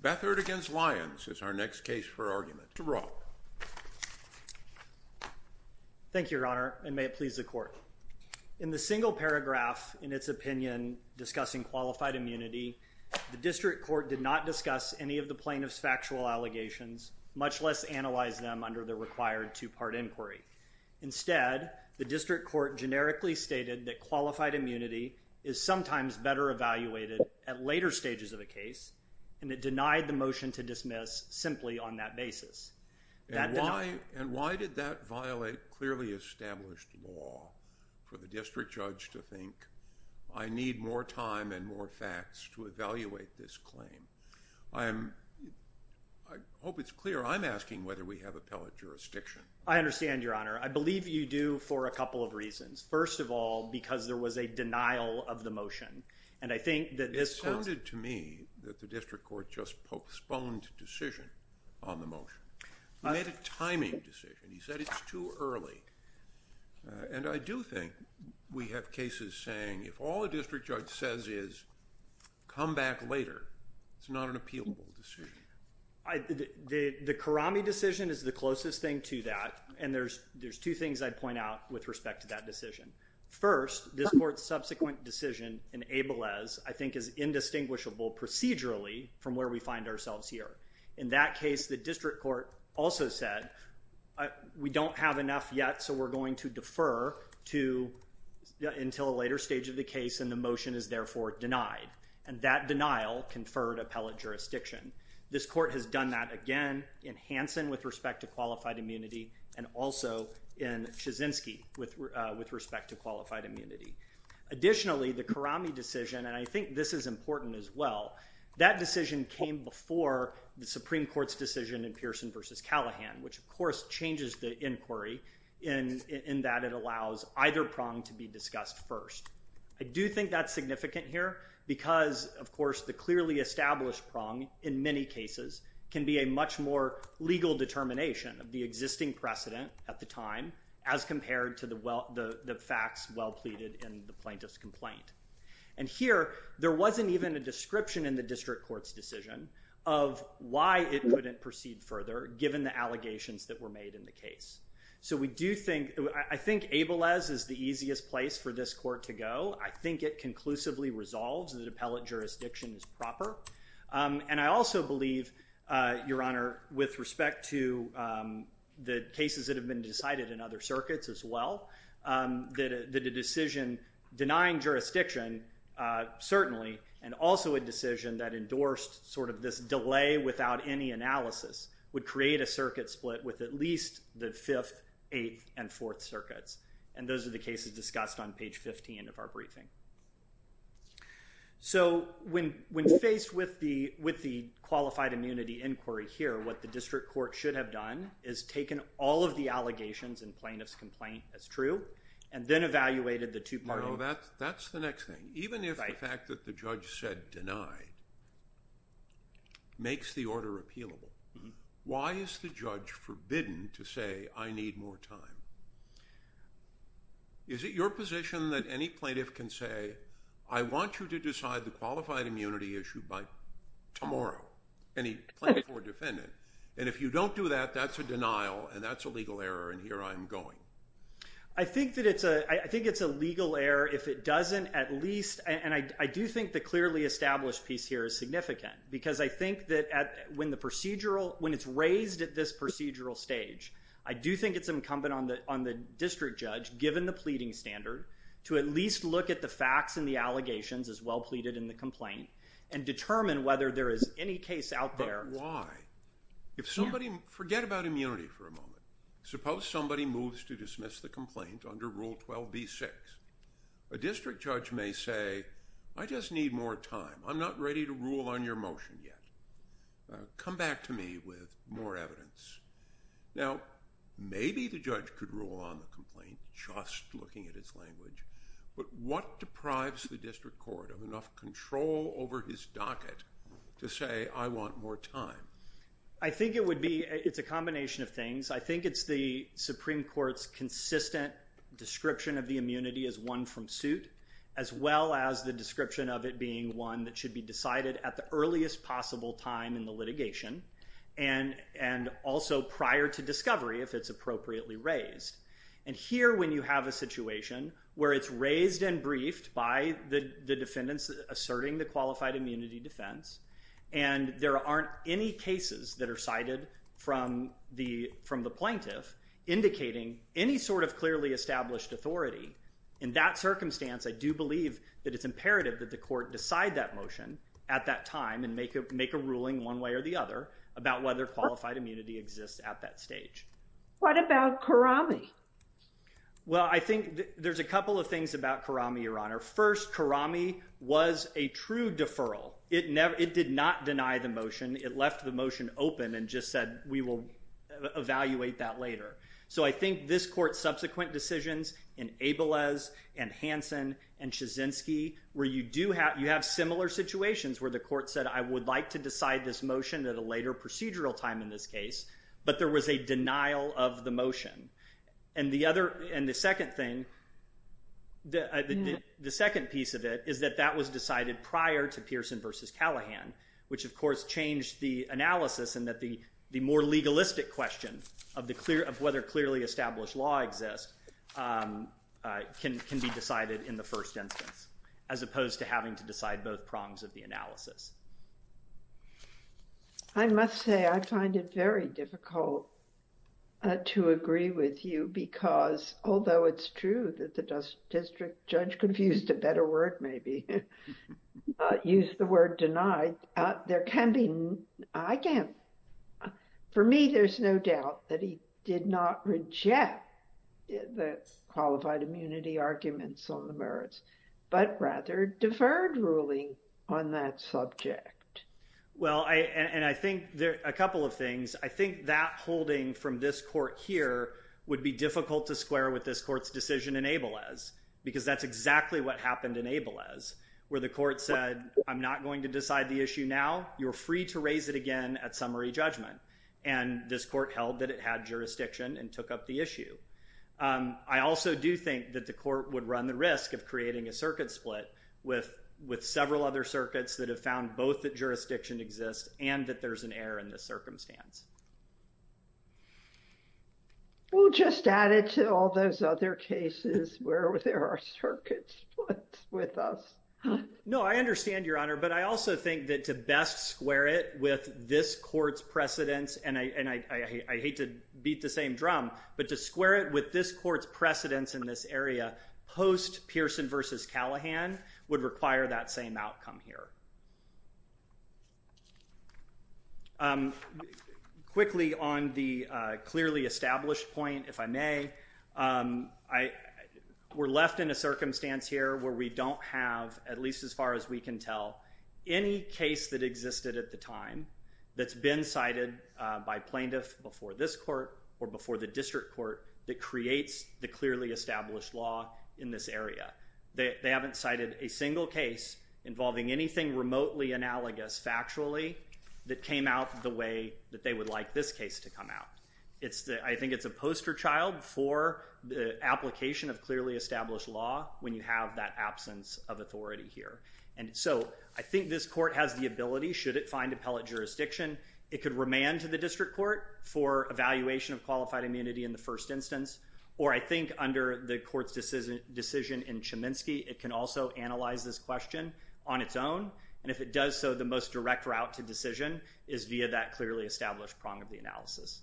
Beathard against Lyons is our next case for argument. DeBraw. Thank you, Your Honor, and may it please the court. In the single paragraph in its opinion discussing qualified immunity, the district court did not discuss any of the plaintiff's factual allegations, much less analyze them under the required two-part inquiry. Instead, the district court generically stated that qualified of a case, and it denied the motion to dismiss simply on that basis. And why did that violate clearly established law for the district judge to think, I need more time and more facts to evaluate this claim? I hope it's clear I'm asking whether we have appellate jurisdiction. I understand, Your Honor. I believe you do for a couple of reasons. First of all, because there was a denial of the motion, and I think that this... It sounded to me that the district court just postponed decision on the motion. He made a timing decision. He said it's too early, and I do think we have cases saying if all a district judge says is come back later, it's not an appealable decision. The Karame decision is the closest thing to that, and there's there's two things I'd point out with respect to that decision. First, this court's subsequent decision in Ablez, I think, is indistinguishable procedurally from where we find ourselves here. In that case, the district court also said we don't have enough yet, so we're going to defer to until a later stage of the case, and the motion is therefore denied. And that denial conferred appellate jurisdiction. This court has done that again in Hanson with respect to qualified immunity, and also in Kaczynski with respect to qualified immunity. Additionally, the Karame decision, and I think this is important as well, that decision came before the Supreme Court's decision in Pearson v. Callahan, which of course changes the inquiry in that it allows either prong to be discussed first. I do think that's significant here because, of course, the clearly established prong in many cases can be a much more legal determination of the existing precedent at the time as compared to the facts well pleaded in the plaintiff's complaint. And here, there wasn't even a description in the district court's decision of why it couldn't proceed further, given the allegations that were made in the case. So we do think, I think Ablez is the easiest place for this court to go. I think it conclusively resolves that appellate jurisdiction is proper, and I mean that with respect to the cases that have been decided in other circuits as well, that the decision denying jurisdiction certainly, and also a decision that endorsed sort of this delay without any analysis, would create a circuit split with at least the 5th, 8th, and 4th circuits. And those are the cases discussed on page 15 of our briefing. So when faced with the qualified immunity inquiry here, what the district court should have done is taken all of the allegations in plaintiff's complaint as true, and then evaluated the two parties. That's the next thing. Even if the fact that the judge said denied makes the order appealable, why is the judge forbidden to say, I need more time? Is it your position that any plaintiff can say, I want you to any plaintiff or defendant? And if you don't do that, that's a denial, and that's a legal error, and here I am going. I think that it's a, I think it's a legal error if it doesn't at least, and I do think the clearly established piece here is significant, because I think that when the procedural, when it's raised at this procedural stage, I do think it's incumbent on the district judge, given the pleading standard, to at least look at the facts and the allegations as But why? If somebody, forget about immunity for a moment. Suppose somebody moves to dismiss the complaint under Rule 12b-6. A district judge may say, I just need more time. I'm not ready to rule on your motion yet. Come back to me with more evidence. Now, maybe the judge could rule on the complaint just looking at its language, but what deprives the district court of enough control over his docket to say, I want more time? I think it would be, it's a combination of things. I think it's the Supreme Court's consistent description of the immunity as one from suit, as well as the description of it being one that should be decided at the earliest possible time in the litigation, and also prior to discovery, if it's appropriately raised. And here, when you have a situation where it's raised and briefed by the defendants asserting the qualified immunity defense, and there aren't any cases that are cited from the plaintiff indicating any sort of clearly established authority, in that circumstance, I do believe that it's imperative that the court decide that motion at that time and make a ruling one way or the other about whether qualified immunity exists at that stage. What about Karame? Well, I think there's a Karame was a true deferral. It never, it did not deny the motion. It left the motion open and just said, we will evaluate that later. So I think this court's subsequent decisions in Abelez and Hanson and Chizinski, where you do have, you have similar situations where the court said, I would like to decide this motion at a later procedural time in this case, but there was a denial of the motion. And the other, and the second thing, the second piece of it is that that was decided prior to Pearson versus Callahan, which of course changed the analysis and that the more legalistic question of the clear, of whether clearly established law exists, can be decided in the first instance, as opposed to having to decide both prongs of the analysis. I must say, I find it very difficult to agree with you because, although it's true that the district judge confused a better word, maybe, used the word denied, there can be, I can't, for me, there's no doubt that he did not reject the qualified immunity arguments on the merits, but rather deferred ruling on that subject. Well, I, and I think there, a couple of things, I think that holding from this court here would be difficult to square with this court's decision in Abelez, because that's exactly what happened in Abelez, where the court said, I'm not going to decide the issue now, you're free to raise it again at summary judgment. And this court held that it had jurisdiction and took up the issue. I also do think that the court would run the risk of creating a circuit split with, with Abelez, and that there's an error in the circumstance. Well, just add it to all those other cases where there are circuit splits with us. No, I understand, Your Honor, but I also think that to best square it with this court's precedence, and I, and I, I hate to beat the same drum, but to square it with this court's precedence in this area, post Pearson versus Callahan, would require that same outcome here. Quickly on the clearly established point, if I may, I, we're left in a circumstance here where we don't have, at least as far as we can tell, any case that existed at the time that's been cited by plaintiff before this court or before the district court that creates the clearly established law in this area. They, they haven't cited a single case involving anything remotely analogous factually that came out the way that they would like this case to come out. It's the, I think it's a poster child for the application of clearly established law when you have that absence of authority here. And so, I think this court has the ability, should it find appellate jurisdiction, it could remand to the district court for evaluation of qualified immunity in the decision in Cheminsky. It can also analyze this question on its own, and if it does so, the most direct route to decision is via that clearly established prong of the analysis.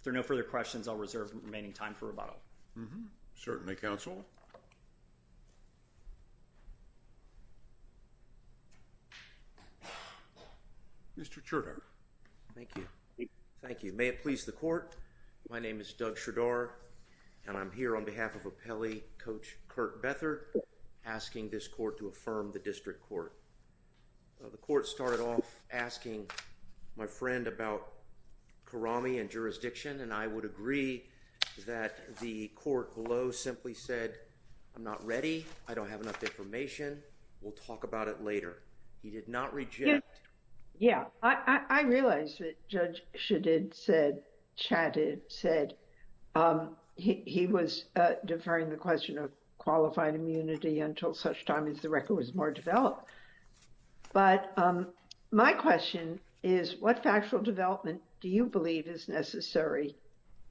If there are no further questions, I'll reserve the remaining time for rebuttal. Certainly, counsel. Mr. Cherdour. Thank you. Thank you. May it please the court, my name is Doug Lee, Coach Kirk Bethard, asking this court to affirm the district court. The court started off asking my friend about Karami and jurisdiction, and I would agree that the court below simply said, I'm not ready, I don't have enough information, we'll talk about it later. He did not reject... Yeah. I, I, I realized that Judge Shedid said, chatted, said, um, he, he was deferring the question of qualified immunity until such time as the record was more developed. But my question is, what factual development do you believe is necessary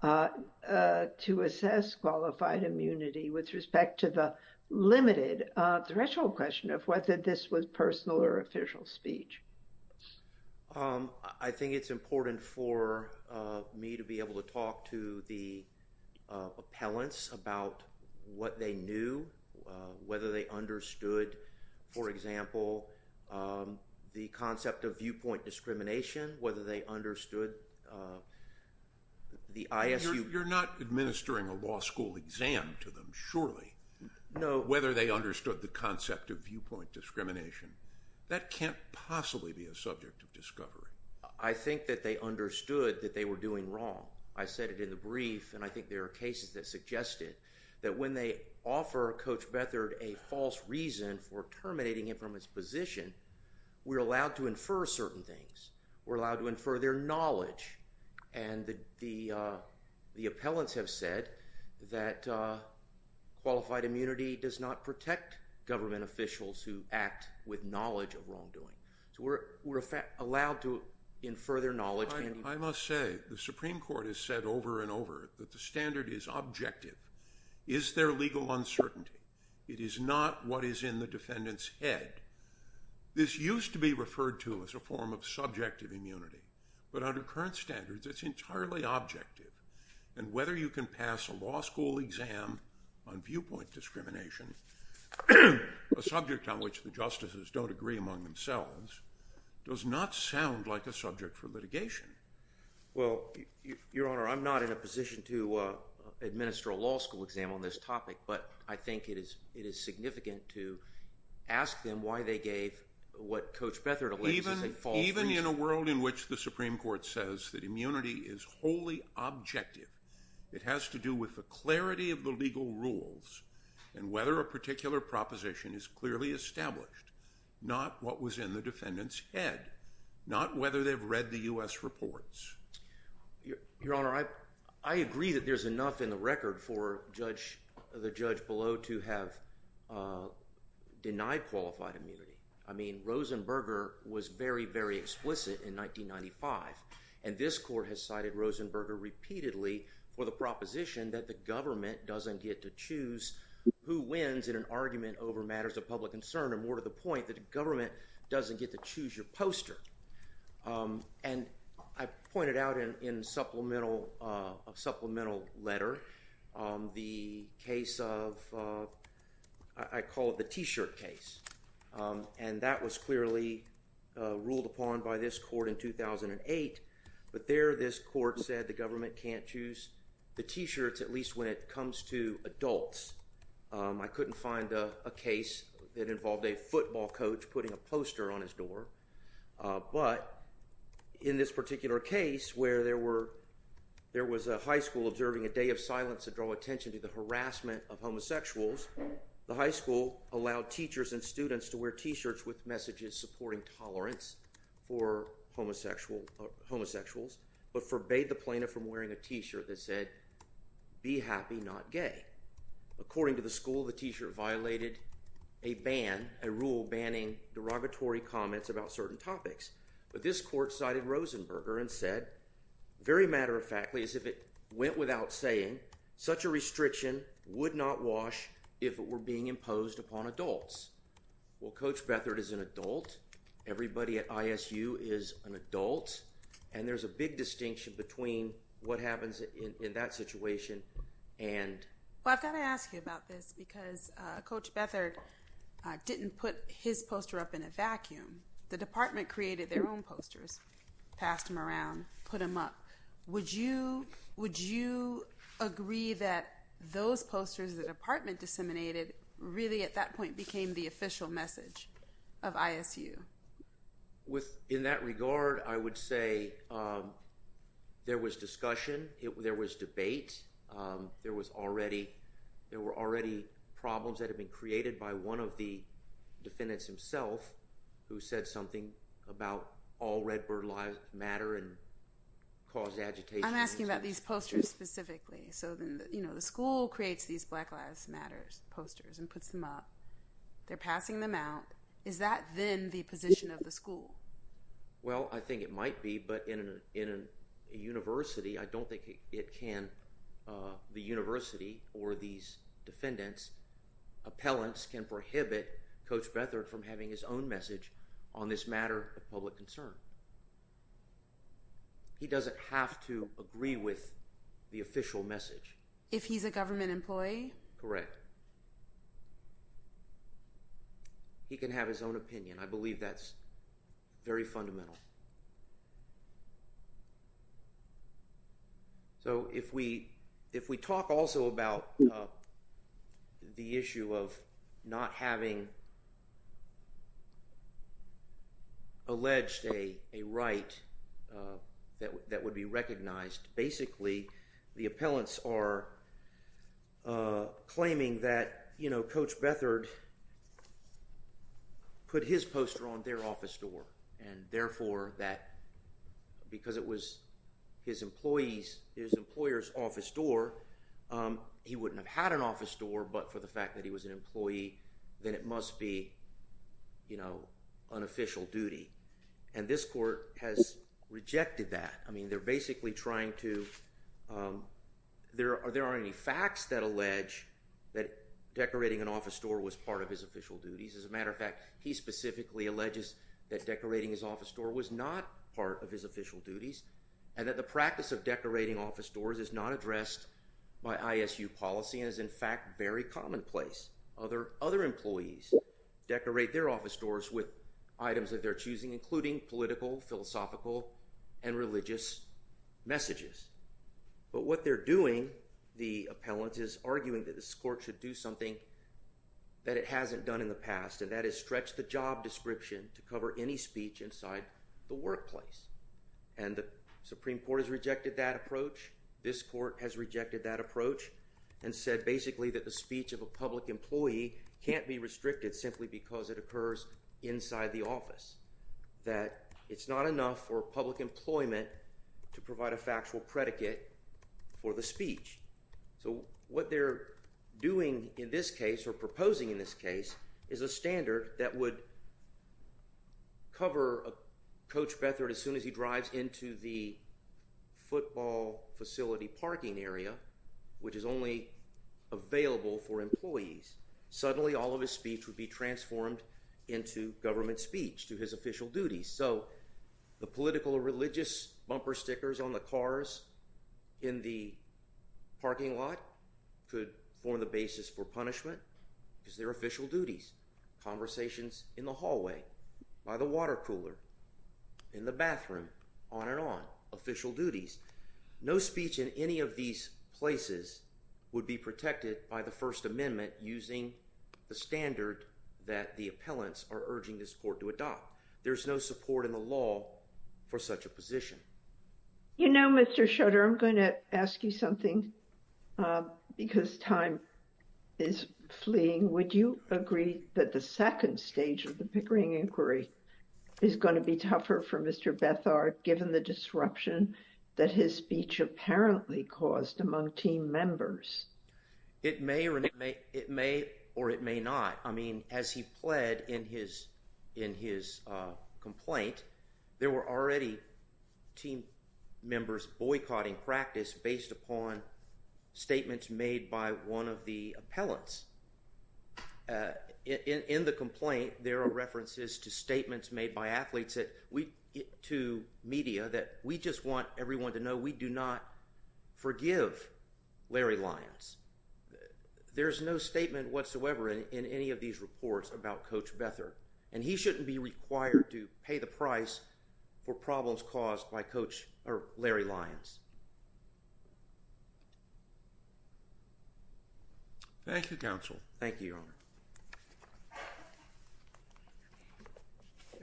to assess qualified immunity with respect to the limited threshold question of whether this was personal or official speech? I think it's about what they knew, whether they understood, for example, the concept of viewpoint discrimination, whether they understood the ISU... You're not administering a law school exam to them, surely. No. Whether they understood the concept of viewpoint discrimination. That can't possibly be a subject of discovery. I think that they understood that they were doing wrong. I said it in a brief, and I think there are cases that suggested that when they offer Coach Bethard a false reason for terminating him from his position, we're allowed to infer certain things. We're allowed to infer their knowledge, and the, the, the appellants have said that qualified immunity does not protect government officials who act with knowledge of wrongdoing. So we're, we're allowed to that the standard is objective. Is there legal uncertainty? It is not what is in the defendant's head. This used to be referred to as a form of subjective immunity, but under current standards it's entirely objective. And whether you can pass a law school exam on viewpoint discrimination, a subject on which the justices don't agree among themselves, does not sound like a subject for I'm not in a position to administer a law school exam on this topic, but I think it is, it is significant to ask them why they gave what Coach Bethard even, even in a world in which the Supreme Court says that immunity is wholly objective. It has to do with the clarity of the legal rules, and whether a particular proposition is clearly established. Not what was in the I, I agree that there's enough in the record for judge, the judge below to have denied qualified immunity. I mean, Rosenberger was very, very explicit in 1995, and this court has cited Rosenberger repeatedly for the proposition that the government doesn't get to choose who wins in an argument over matters of public concern, and more to the point that the government doesn't get to choose your poster. And I pointed out in supplemental, a supplemental letter, the case of, I call it the t-shirt case, and that was clearly ruled upon by this court in 2008, but there this court said the government can't choose the t-shirts, at least when it comes to adults. I couldn't find a case that involved a football coach putting a poster on his door, but in this particular case where there were, there was a high school observing a day of silence to draw attention to the harassment of homosexuals, the high school allowed teachers and students to wear t-shirts with messages supporting tolerance for homosexual, homosexuals, but forbade the plaintiff from wearing a t-shirt that said, be happy not gay. According to the school, the t-shirt violated a ban, a rule banning derogatory comments about certain topics. But this court cited Rosenberger and said, very matter-of-factly, as if it went without saying, such a restriction would not wash if it were being imposed upon adults. Well, Coach Beathard is an adult, everybody at ISU is an adult, and there's a big distinction between what happens in that situation and, well I've got to ask you about this, because Coach Beathard didn't put his poster up in a vacuum. The department created their own posters, passed them around, put them up. Would you, would you agree that those posters the department disseminated really at that point became the official message of ISU? With, in that regard, I would say there was discussion, there was debate, there was already, there were already problems that have been created by one of the defendants himself who said something about all redbird lives matter and caused agitation. I'm asking about these posters specifically. So then, you know, the school creates these Black Lives Matter posters and puts them up. They're passing them out. Is that then the position of the school? Well, I think it might be, but in a university, I don't think it can, the university or these defendants, appellants can prohibit Coach Beathard from having his own message on this matter of public concern. He doesn't have to agree with the official message. If he's a government employee? Correct. He can have his own opinion. I believe that's very fundamental. So, if we, if we talk also about the issue of not having alleged a right that would be recognized, basically, the appellants are claiming that, you know, Coach Beathard put his poster on their office door and therefore that because it was his employees, his employer's office door, he wouldn't have had an office door, but for the fact that he was an employee, then it must be, you know, unofficial duty. And this court has rejected that. I mean, they're basically trying to, there aren't any facts that allege that decorating an office door was part of his official duties. As a matter of fact, he specifically alleges that decorating his office door was not part of his official duties and that the practice of decorating office doors is not addressed by ISU policy and is, in fact, very commonplace. Other employees decorate their office doors with items that they're choosing, including political, philosophical, and religious messages. But what they're doing, the appellant is arguing that this court should do something that it hasn't done in the past, and that is stretch the job description to cover any speech inside the workplace. And the Supreme Court has rejected that approach. This court has rejected that approach and said, basically, that the speech of a public employee can't be restricted simply because it occurs inside the office. That it's not enough for public employment to provide a factual predicate for the speech. So what they're doing in this case, or proposing in this case, is a standard that would cover Coach Beathard as soon as he drives into the football facility parking area, which is only available for employees. Suddenly, all of his speech would be transformed into government speech to his official duty. So the political or religious bumper stickers on the cars in the parking lot could form the basis for punishment because they're official duties. Conversations in the hallway, by the water cooler, in the bathroom, on and on. Official duties. No speech in any of these places would be protected by the First Amendment using the standard that the appellants are urging this court to support in the law for such a position. You know, Mr. Schroeder, I'm going to ask you something because time is fleeing. Would you agree that the second stage of the Pickering inquiry is going to be tougher for Mr. Beathard given the disruption that his speech apparently caused among team members? It may or it may not. I mean, as he pled in his complaint, there were already team members boycotting practice based upon statements made by one of the appellants. In the complaint, there are references to statements made by athletes to media that we just want everyone to know we do not forgive Larry Lyons. There's no statement whatsoever in any of these reports about Coach Beathard, and he shouldn't be required to pay the price for problems caused by Coach Larry Lyons. Thank you, counsel. Thank you, Your Honor.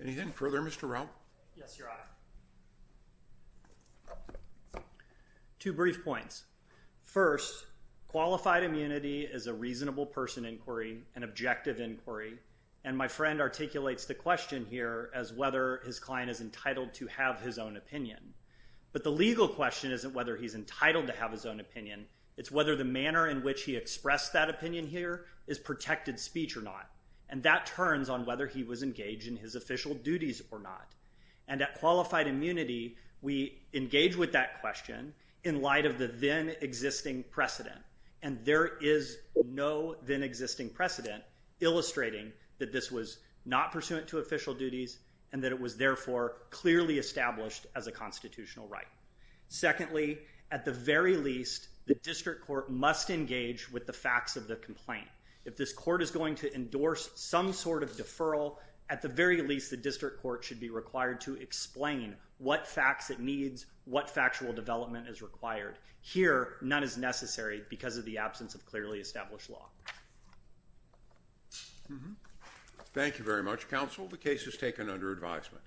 Anything further, Mr. Rao? Yes, Your Honor. Two brief points. First, qualified immunity is a reasonable person inquiry, an objective inquiry, and my friend articulates the question here as whether his client is entitled to have his own opinion. But the legal question isn't whether he's entitled to have his own opinion. It's whether the manner in which he expressed that opinion here is protected speech or not, and that turns on whether he was engaged in his official duties or not. And at qualified immunity, we engage with that question in light of the then existing precedent, and there is no then existing precedent illustrating that this was not pursuant to official duties and that it was therefore clearly established as a constitutional right. Secondly, at the very least, the district court must engage with the facts of the complaint. If this court is going to endorse some sort of deferral, at the very least, the district court should be required to explain what facts it needs, what factual development is required. Here, none is because of the absence of clearly established law. Thank you very much, counsel. The case is taken under advisement.